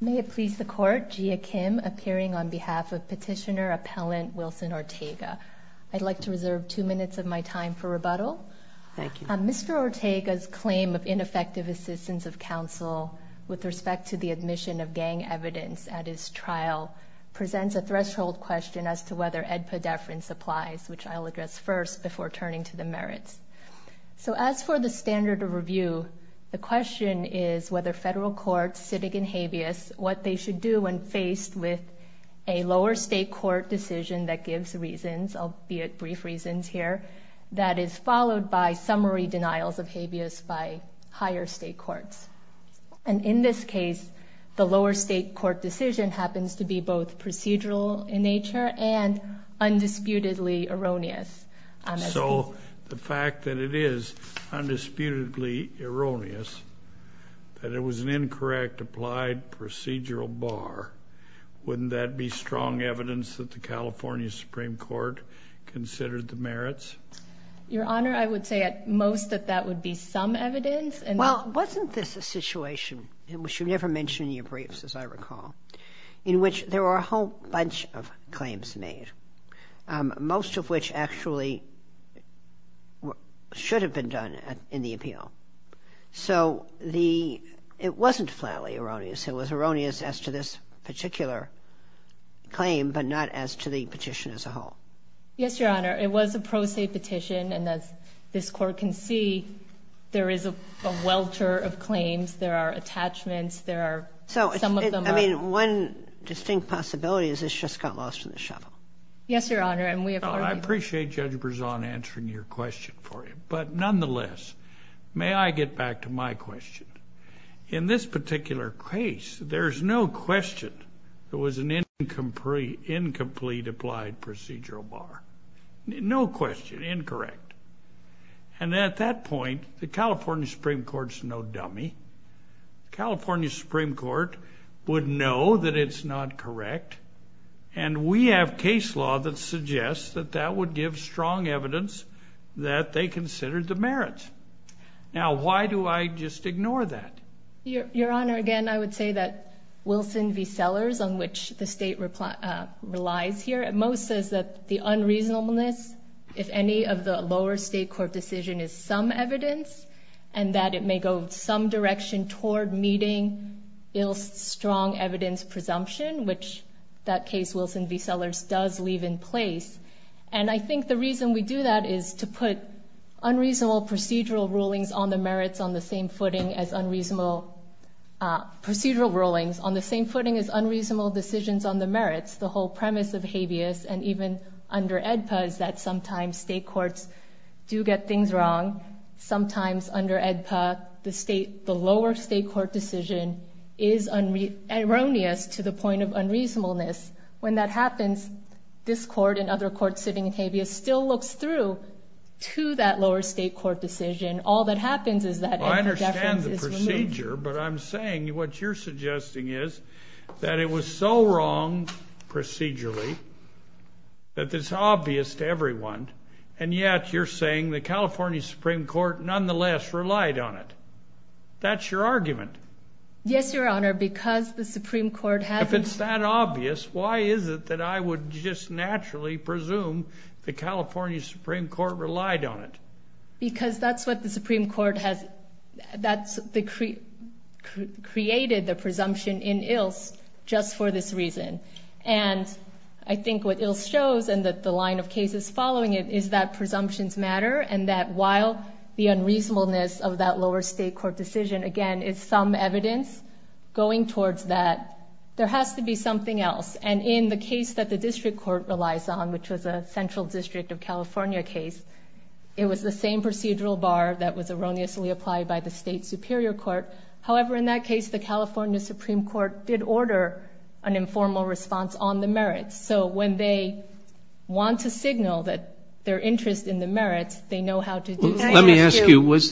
May it please the Court, Gia Kim appearing on behalf of Petitioner Appellant Wilson Ortega. I'd like to reserve two minutes of my time for rebuttal. Mr. Ortega's claim of ineffective assistance of counsel with respect to the admission of gang evidence at his trial presents a threshold question as to whether head pedefran supplies, which I'll address first before turning to the merits. So as for the standard of review, the question is whether federal courts, civic and habeas, what they should do when faced with a lower state court decision that gives reasons, albeit brief reasons here, that is followed by summary erroneous. So the fact that it is undisputedly erroneous, that it was an incorrect applied procedural bar, wouldn't that be strong evidence that the California Supreme Court considered the merits? Your Honor, I would say at most that that would be some evidence. Well, wasn't this a situation, which you never mention in your briefs as I recall, in which there were a whole bunch of claims made, most of which actually should have been done in the appeal? So it wasn't flatly erroneous. It was erroneous as to this particular claim, but not as to the petition as a whole. Yes, Your Honor. It was a pro se petition, and as this Court can see, there is a welter of claims. There are attachments. There are some of them. I mean, one distinct possibility is this just got lost in the shuffle. Yes, Your Honor. I appreciate Judge Berzon answering your question for you, but nonetheless, may I get back to my question? In this particular case, there's no question there was an incomplete applied procedural bar. No question, incorrect. And at that point, the California Supreme Court's no dummy. California Supreme Court would know that it's not correct, and we have case law that suggests that that would give strong evidence that they considered the merits. Now, why do I just ignore that? Your Honor, again, I would say that Wilson v. Sellers, on which the State relies here, at most says that the unreasonableness, if any, of the lower State court decision is some evidence, and that it may go some direction toward meeting ill strong evidence presumption, which that case, Wilson v. Sellers, does leave in place. And I think the procedural rulings, on the same footing as unreasonable decisions on the merits, the whole premise of habeas, and even under AEDPA, is that sometimes State courts do get things wrong. Sometimes under AEDPA, the lower State court decision is erroneous to the point of unreasonableness. When that happens, this court and other courts sitting in habeas still looks through to that lower State court decision. All that happens is that AEDPA deference is removed. I understand the procedure, but I'm saying what you're suggesting is that it was so wrong procedurally that it's obvious to everyone, and yet you're saying the California Supreme Court nonetheless relied on it. That's your argument. Yes, Your Honor, because the Supreme Court has created the presumption in Ilse just for this reason. And I think what Ilse shows, and that the line of cases following it, is that presumptions matter, and that while the California Supreme Court did order an informal response on the merits. So when they want to signal that their interest in the merits, they know how to do so. Let me ask you, was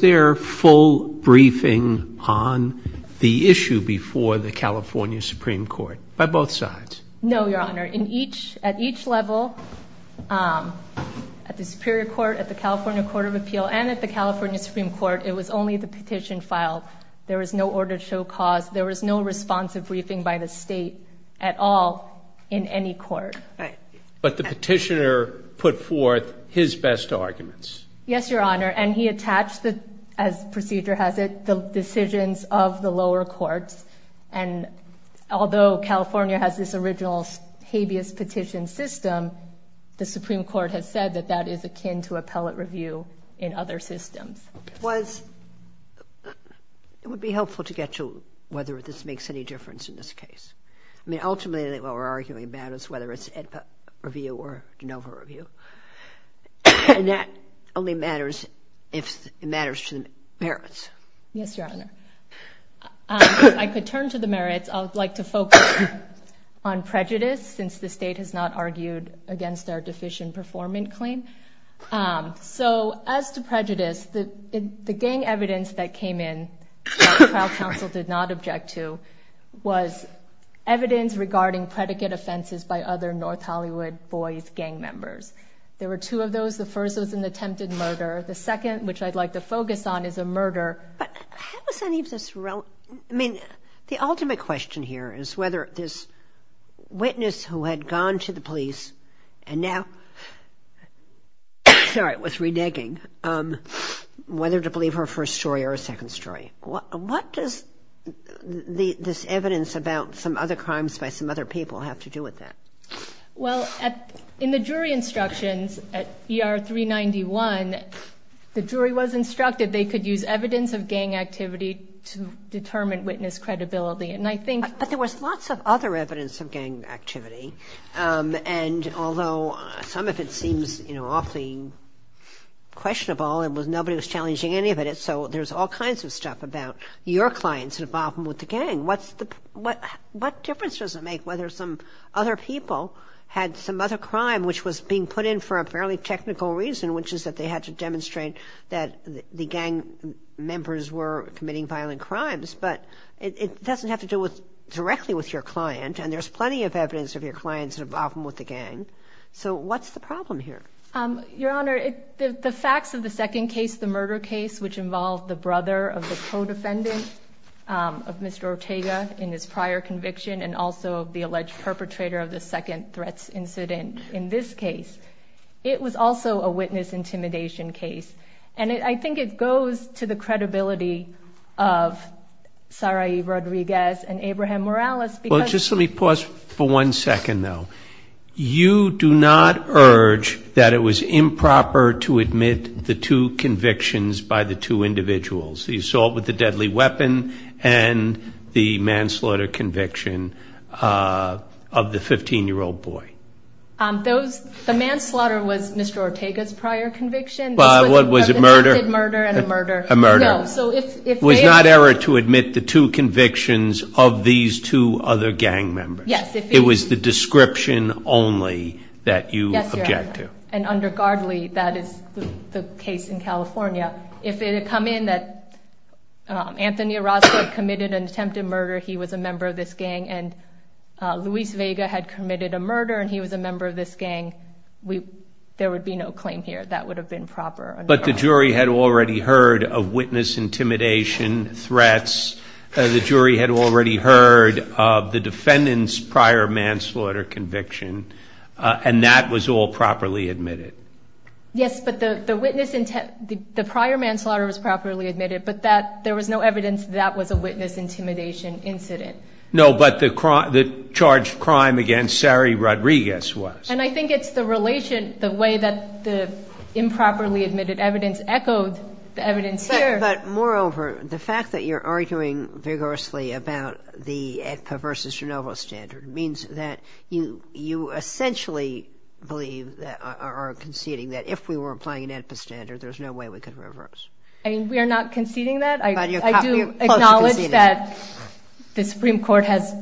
there full briefing on the issue before the California Supreme Court, by both sides? No, Your Honor. At each level, at the Superior Court, at the California Court of Appeal, and at the California Supreme Court, it was only the petition file. There was no order to show cause. There was no responsive briefing by the State at all in any court. But the petitioner put forth his best arguments. Yes, Your Honor, and he attached, as the procedure has it, the decisions of the lower courts. And although California has this original habeas petition system, the Supreme Court has said that that is akin to appellate review in other systems. It would be helpful to get to whether this makes any difference in this case. I mean, ultimately, what we're arguing about is whether it's AEDPA review or de novo review. And that only matters if it matters to the merits. Yes, Your Honor. If I could turn to the merits, I would like to focus on prejudice, since the State has not argued against our deficient performance claim. So, as to prejudice, the gang evidence that came in, that the trial counsel did not object to, was evidence regarding predicate offenses by other North Hollywood boys gang members. There were two of those. The first was an attempted murder. The second, which I'd like to focus on, is a murder. But how is any of this relevant? I mean, the ultimate question here is whether this witness who had gone to the police and now, sorry, was reneging, whether to believe her first story or her second story. What does this evidence about some other crimes by some other people have to do with that? Well, in the jury instructions at ER 391, the jury was instructed they could use evidence of gang activity to determine witness credibility. And I think... But there was lots of other evidence of gang activity. And although some of it seems, you know, awfully questionable and nobody was challenging any of it, so there's all kinds of stuff about your clients involved with the gang. What difference does it make whether some other people had some other crime which was being put in for a fairly technical reason, which is that they had to demonstrate that the gang members were committing violent crimes? But it doesn't have to do directly with your client. And there's plenty of evidence of your clients involved with the gang. So, what's the problem here? Your Honor, the facts of the second case, the murder case, which involved the brother of the co-defendant of Mr. Ortega in his prior conviction and also the alleged perpetrator of the second threats incident in this case, it was also a witness intimidation case. And I think it goes to the credibility of Sarai Rodriguez and Abraham Morales because... That it was improper to admit the two convictions by the two individuals, the assault with the deadly weapon and the manslaughter conviction of the 15-year-old boy. The manslaughter was Mr. Ortega's prior conviction. Was it murder? An acted murder and a murder. A murder. No, so if they... It was not error to admit the two convictions of these two other gang members. Yes, if... It was the description only that you object to. And under guardly, that is the case in California. If it had come in that Anthony Orozco committed an attempted murder, he was a member of this gang, and Luis Vega had committed a murder and he was a member of this gang, there would be no claim here. That would have been proper. But the jury had already heard of witness intimidation threats, the jury had already heard of the defendant's prior manslaughter conviction, and that was all properly admitted. Yes, but the witness... The prior manslaughter was properly admitted, but there was no evidence that that was a witness intimidation incident. No, but the charged crime against Sarai Rodriguez was. And I think it's the relation, the way that the improperly admitted evidence echoed the evidence here. But moreover, the fact that you're arguing vigorously about the AEDPA versus GENOVA standard means that you essentially believe or are conceding that if we were applying an AEDPA standard, there's no way we could reverse. I mean, we are not conceding that. But you're close to conceding it. The Supreme Court has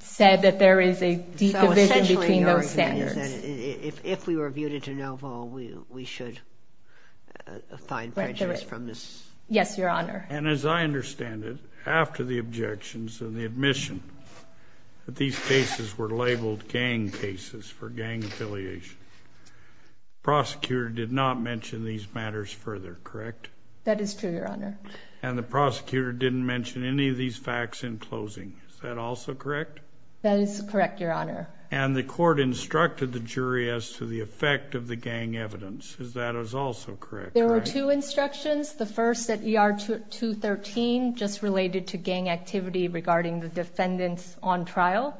said that there is a deep division between those standards. So essentially your argument is that if we were viewed into GENOVA, we should find prejudice from this? Yes, Your Honor. And as I understand it, after the objections and the admission that these cases were labeled gang cases for gang affiliation, the prosecutor did not mention these matters further, correct? That is true, Your Honor. And the prosecutor didn't mention any of these facts in closing. Is that also correct? That is correct, Your Honor. And the court instructed the jury as to the effect of the gang evidence. Is that also correct? There were two instructions. The first at ER 213 just related to gang activity regarding the defendants on trial,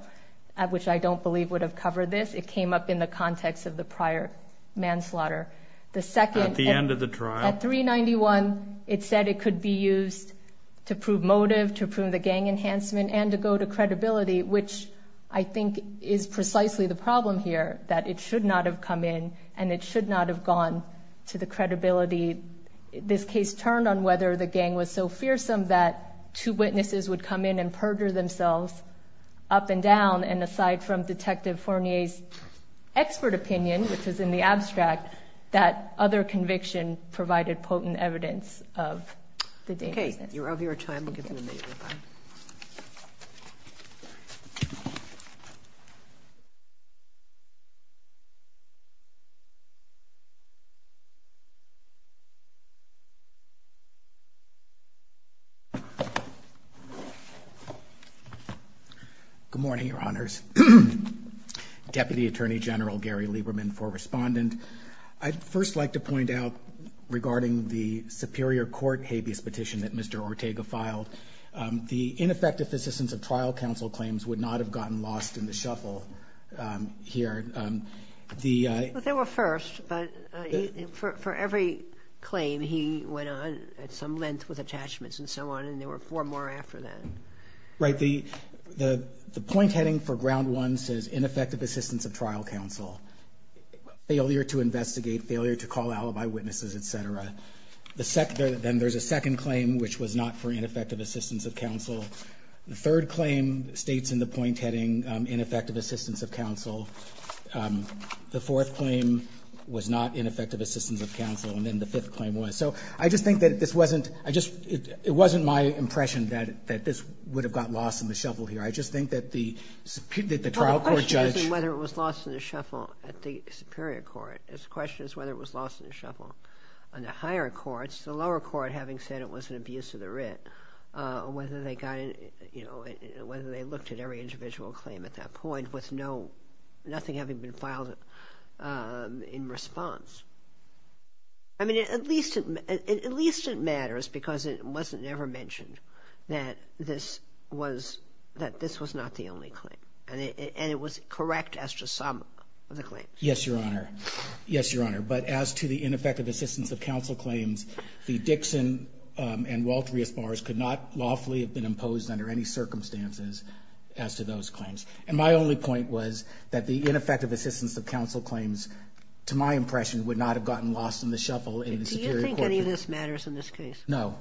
which I don't believe would have covered this. It came up in the context of the prior manslaughter. At the end of the trial? At 391, it said it could be used to prove motive, to prove the gang enhancement, and to go to credibility, which I think is precisely the problem here, that it should not have come in and it should not have gone to the credibility. This case turned on whether the gang was so fearsome that two witnesses would come in and perjure themselves up and down, and aside from Detective Fournier's expert opinion, which is in the abstract, that other conviction provided potent evidence of the danger. Okay. You're over your time. We'll give you a minute. Good morning, Your Honors. Deputy Attorney General Gary Lieberman for Respondent. I'd first like to point out regarding the Superior Court habeas petition that Mr. Ortega filed, the ineffective assistance of trial counsel claims would not have gotten lost in the shuffle here. Well, they were first, but for every claim, he went on at some length with attachments and so on, and there were four more after that. Right. The point heading for ground one says ineffective assistance of trial counsel, failure to investigate, failure to call alibi witnesses, et cetera. Then there's a second claim, which was not for ineffective assistance of counsel. The third claim states in the point heading ineffective assistance of counsel. The fourth claim was not ineffective assistance of counsel, and then the fifth claim was. So I just think that this wasn't – it wasn't my impression that this would have got lost in the shuffle here. I just think that the trial court judge – the question is whether it was lost in the shuffle in the higher courts, the lower court having said it was an abuse of the writ, whether they got – whether they looked at every individual claim at that point with no – nothing having been filed in response. I mean, at least it matters because it wasn't ever mentioned that this was – that this was not the only claim, and it was correct as to some of the claims. Yes, Your Honor. Yes, Your Honor. But as to the ineffective assistance of counsel claims, the Dixon and Walter Rios bars could not lawfully have been imposed under any circumstances as to those claims. And my only point was that the ineffective assistance of counsel claims, to my impression, would not have gotten lost in the shuffle in the superior court. Do you think any of this matters in this case? No.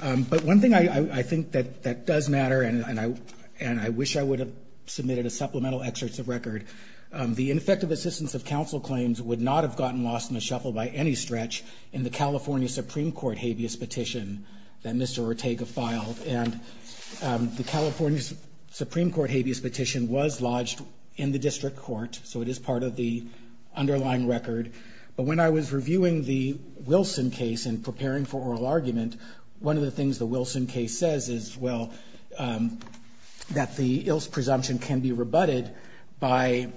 But one thing I think that does matter, and I wish I would have submitted a supplemental excerpt of record, the ineffective assistance of counsel claims would not have gotten lost in the shuffle by any stretch in the California Supreme Court habeas petition that Mr. Ortega filed. And the California Supreme Court habeas petition was lodged in the district court, so it is part of the underlying record. But when I was reviewing the Wilson case and preparing for oral argument, one of the things the Wilson case says is, well, that the ill presumption can be rebutted by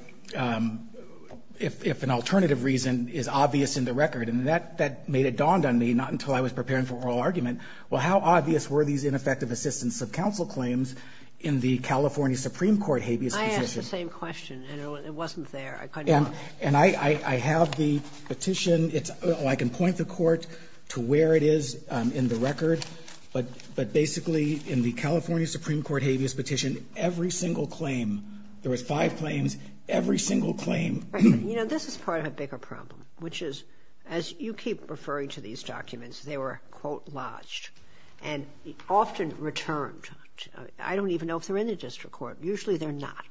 if an alternative reason is obvious in the record. And that made it dawned on me, not until I was preparing for oral argument, well, how obvious were these ineffective assistance of counsel claims in the California Supreme Court habeas petition? I asked the same question, and it wasn't there. And I have the petition. I can point the court to where it is in the record. But basically in the California Supreme Court habeas petition, every single claim, there was five claims, every single claim. You know, this is part of a bigger problem, which is, as you keep referring to these documents, they were, quote, lodged and often returned. I don't even know if they're in the district court. Usually they're not.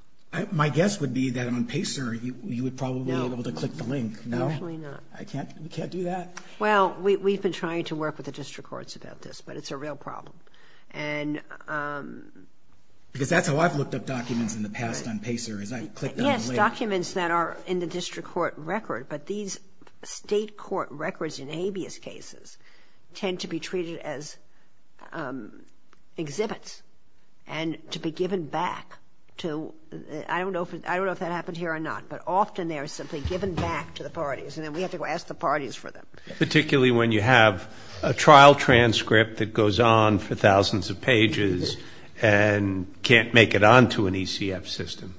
My guess would be that on PACER you would probably be able to click the link. No, usually not. I can't do that. Well, we've been trying to work with the district courts about this, but it's a real problem. Because that's how I've looked up documents in the past on PACER is I click the link. Yes, documents that are in the district court record. But these state court records in habeas cases tend to be treated as exhibits and to be given back to, I don't know if that happened here or not, but often they are simply given back to the parties and then we have to go ask the parties for them. Particularly when you have a trial transcript that goes on for thousands of pages and can't make it on to an ECF system.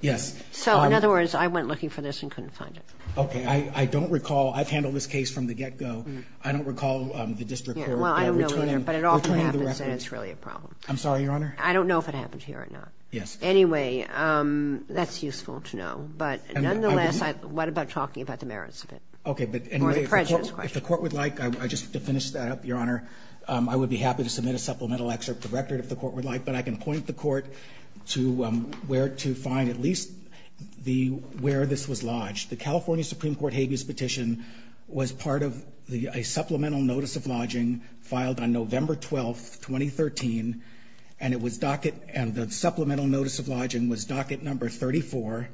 Yes. So, in other words, I went looking for this and couldn't find it. Okay. I don't recall. I've handled this case from the get-go. But it often happens and it's really a problem. I'm sorry, Your Honor? I don't know if it happened here or not. Yes. Anyway, that's useful to know. But nonetheless, what about talking about the merits of it? Okay. Or the prejudice question. If the court would like, just to finish that up, Your Honor, I would be happy to submit a supplemental excerpt of the record if the court would like. But I can point the court to where to find at least where this was lodged. The California Supreme Court habeas petition was part of a supplemental notice of lodging filed on November 12, 2013. And the supplemental notice of lodging was docket number 34.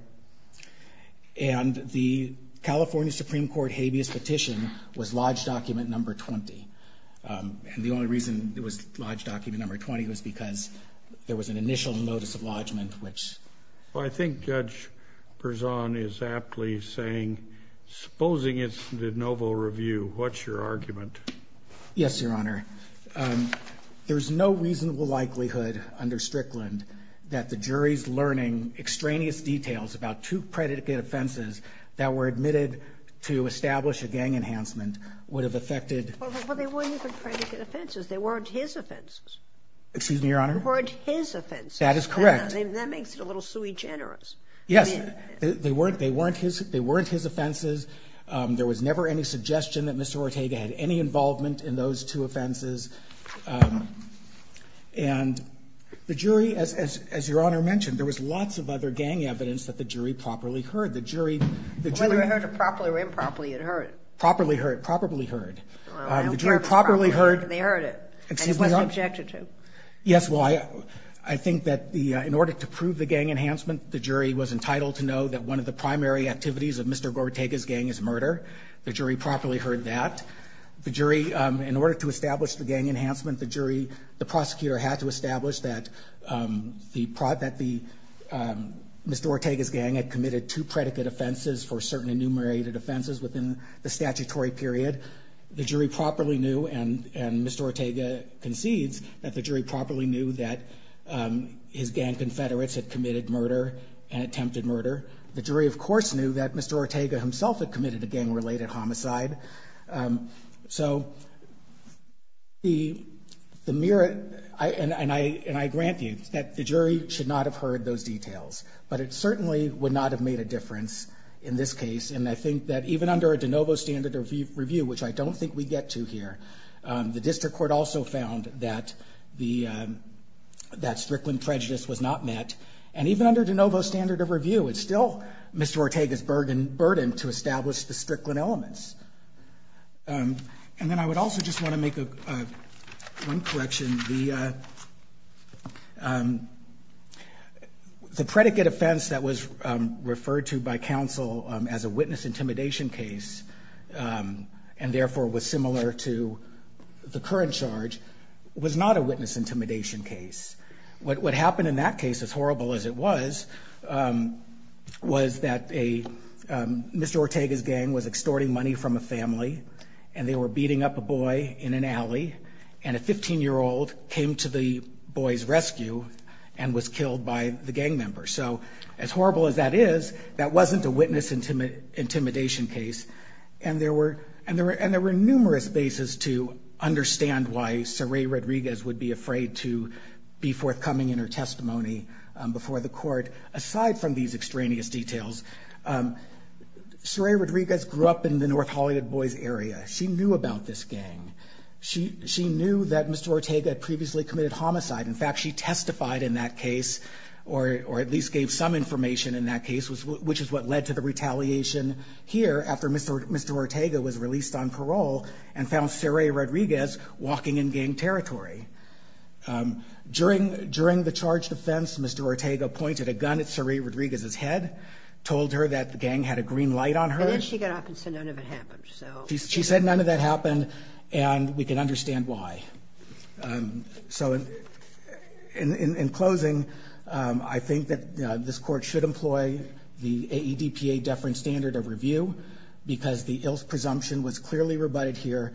And the California Supreme Court habeas petition was lodge document number 20. And the only reason it was lodge document number 20 was because there was an initial notice of lodgment, which… Well, I think Judge Berzon is aptly saying, supposing it's the novel review, what's your argument? Yes, Your Honor. There's no reasonable likelihood under Strickland that the jury's learning extraneous details about two predicate offenses that were admitted to establish a gang enhancement would have affected… Well, they weren't even predicate offenses. They weren't his offenses. Excuse me, Your Honor? They weren't his offenses. That is correct. That makes it a little sui generis. Yes. They weren't his offenses. There was never any suggestion that Mr. Gortega had any involvement in those two offenses. And the jury, as Your Honor mentioned, there was lots of other gang evidence that the jury properly heard. The jury… Whether it heard it properly or improperly, it heard it. Properly heard. Properly heard. The jury properly heard… They heard it. And it wasn't objected to. Yes. Well, I think that in order to prove the gang enhancement, the jury was entitled to know that one of the primary activities of Mr. Gortega's gang is murder. The jury properly heard that. The jury… In order to establish the gang enhancement, the jury… The prosecutor had to establish that the… Mr. Gortega's gang had committed two predicate offenses for certain enumerated offenses within the statutory period. The jury properly knew, and Mr. Gortega concedes, that the jury properly knew that his gang confederates had committed murder and attempted murder. The jury, of course, knew that Mr. Gortega himself had committed a gang-related homicide. So, the mere… And I grant you that the jury should not have heard those details. But it certainly would not have made a difference in this case. And I think that even under a de novo standard review, which I don't think we get to here, the district court also found that the… That Strickland prejudice was not met. And even under de novo standard of review, it's still Mr. Gortega's burden to establish the Strickland elements. And then I would also just want to make one correction. The… The predicate offense that was referred to by counsel as a witness intimidation case, and therefore was similar to the current charge, was not a witness intimidation case. What happened in that case, as horrible as it was, was that a… Mr. Gortega's gang was extorting money from a family, and they were beating up a boy in an alley. And a 15-year-old came to the boy's rescue and was killed by the gang member. So as horrible as that is, that wasn't a witness intimidation case. And there were numerous bases to understand why Saray Rodriguez would be afraid to be forthcoming in her testimony before the court, aside from these extraneous details. Saray Rodriguez grew up in the North Hollywood Boys area. She knew about this gang. She knew that Mr. Gortega had previously committed homicide. In fact, she testified in that case, or at least gave some information in that case, which is what led to the retaliation here after Mr. Gortega was released on parole and found Saray Rodriguez walking in gang territory. During the charge defense, Mr. Gortega pointed a gun at Saray Rodriguez's head, told her that the gang had a green light on her. And then she got up and said none of it happened. She said none of that happened, and we can understand why. So in closing, I think that this court should employ the AEDPA deference standard of review because the ill presumption was clearly rebutted here.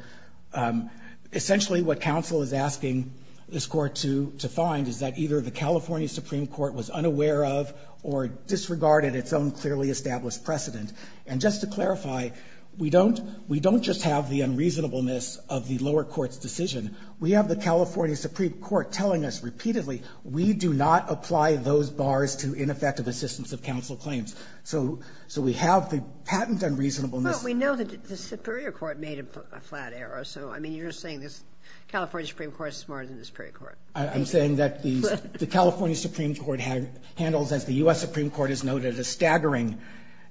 Essentially what counsel is asking this court to find is that either the California Supreme Court was unaware of or disregarded its own clearly established precedent. And just to clarify, we don't just have the unreasonableness of the lower court's decision. We have the California Supreme Court telling us repeatedly we do not apply those bars to ineffective assistance of counsel claims. So we have the patent unreasonableness. But we know that the Superior Court made a flat error. So, I mean, you're saying the California Supreme Court is smarter than the Superior Court. I'm saying that the California Supreme Court handles, as the U.S. Supreme Court has noted, a staggering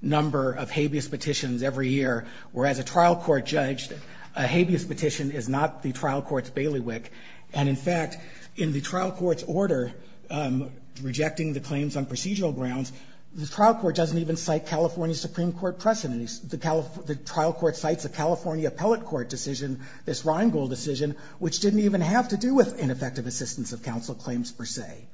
number of habeas petitions every year, whereas a trial court judge, a habeas petition is not the trial court's bailiwick. And, in fact, in the trial court's order rejecting the claims on procedural grounds, the trial court doesn't even cite California Supreme Court precedent. The trial court cites a California appellate court decision, this Rheingold decision, which didn't even have to do with ineffective assistance of counsel claims per se.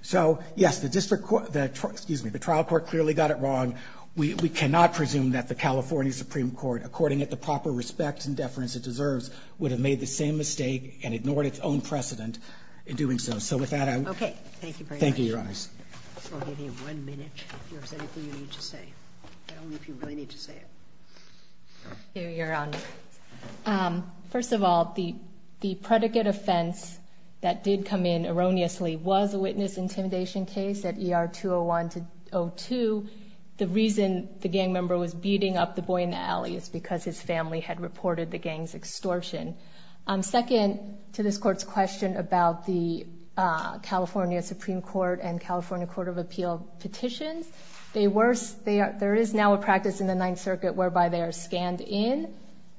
So, yes, the district court, excuse me, the trial court clearly got it wrong. We cannot presume that the California Supreme Court, according to the proper respect and deference it deserves, would have made the same mistake and ignored its own precedent in doing so. So, with that, I would. Okay. Thank you very much. Thank you, Your Honors. I'll give you one minute if there's anything you need to say. I don't know if you really need to say it. You're on. First of all, the predicate offense that did come in erroneously was a witness intimidation case at ER 201-02. The reason the gang member was beating up the boy in the alley is because his family had reported the gang's extortion. Second, to this court's question about the California Supreme Court and California Court of Appeal petitions, there is now a practice in the Ninth Circuit whereby they are scanned in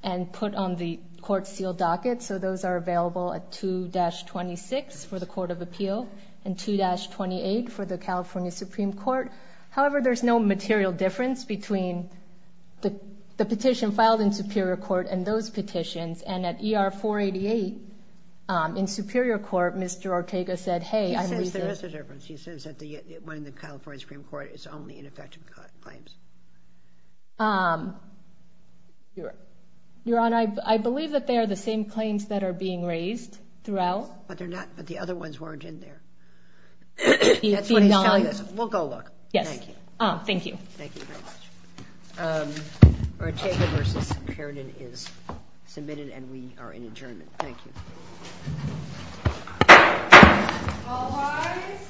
and put on the court seal docket, so those are available at 2-26 for the Court of Appeal and 2-28 for the California Supreme Court. However, there's no material difference between the petition filed in Superior Court and those petitions, and at ER 488 in Superior Court, Mr. Ortega said, hey, I'm leaving. He says there is a difference. He says that the one in the California Supreme Court is only ineffective claims. Your Honor, I believe that they are the same claims that are being raised throughout. But the other ones weren't in there. That's what he's telling us. We'll go look. Thank you. Thank you. Thank you very much. Ortega v. Carrington is submitted, and we are in adjournment. Thank you. All rise.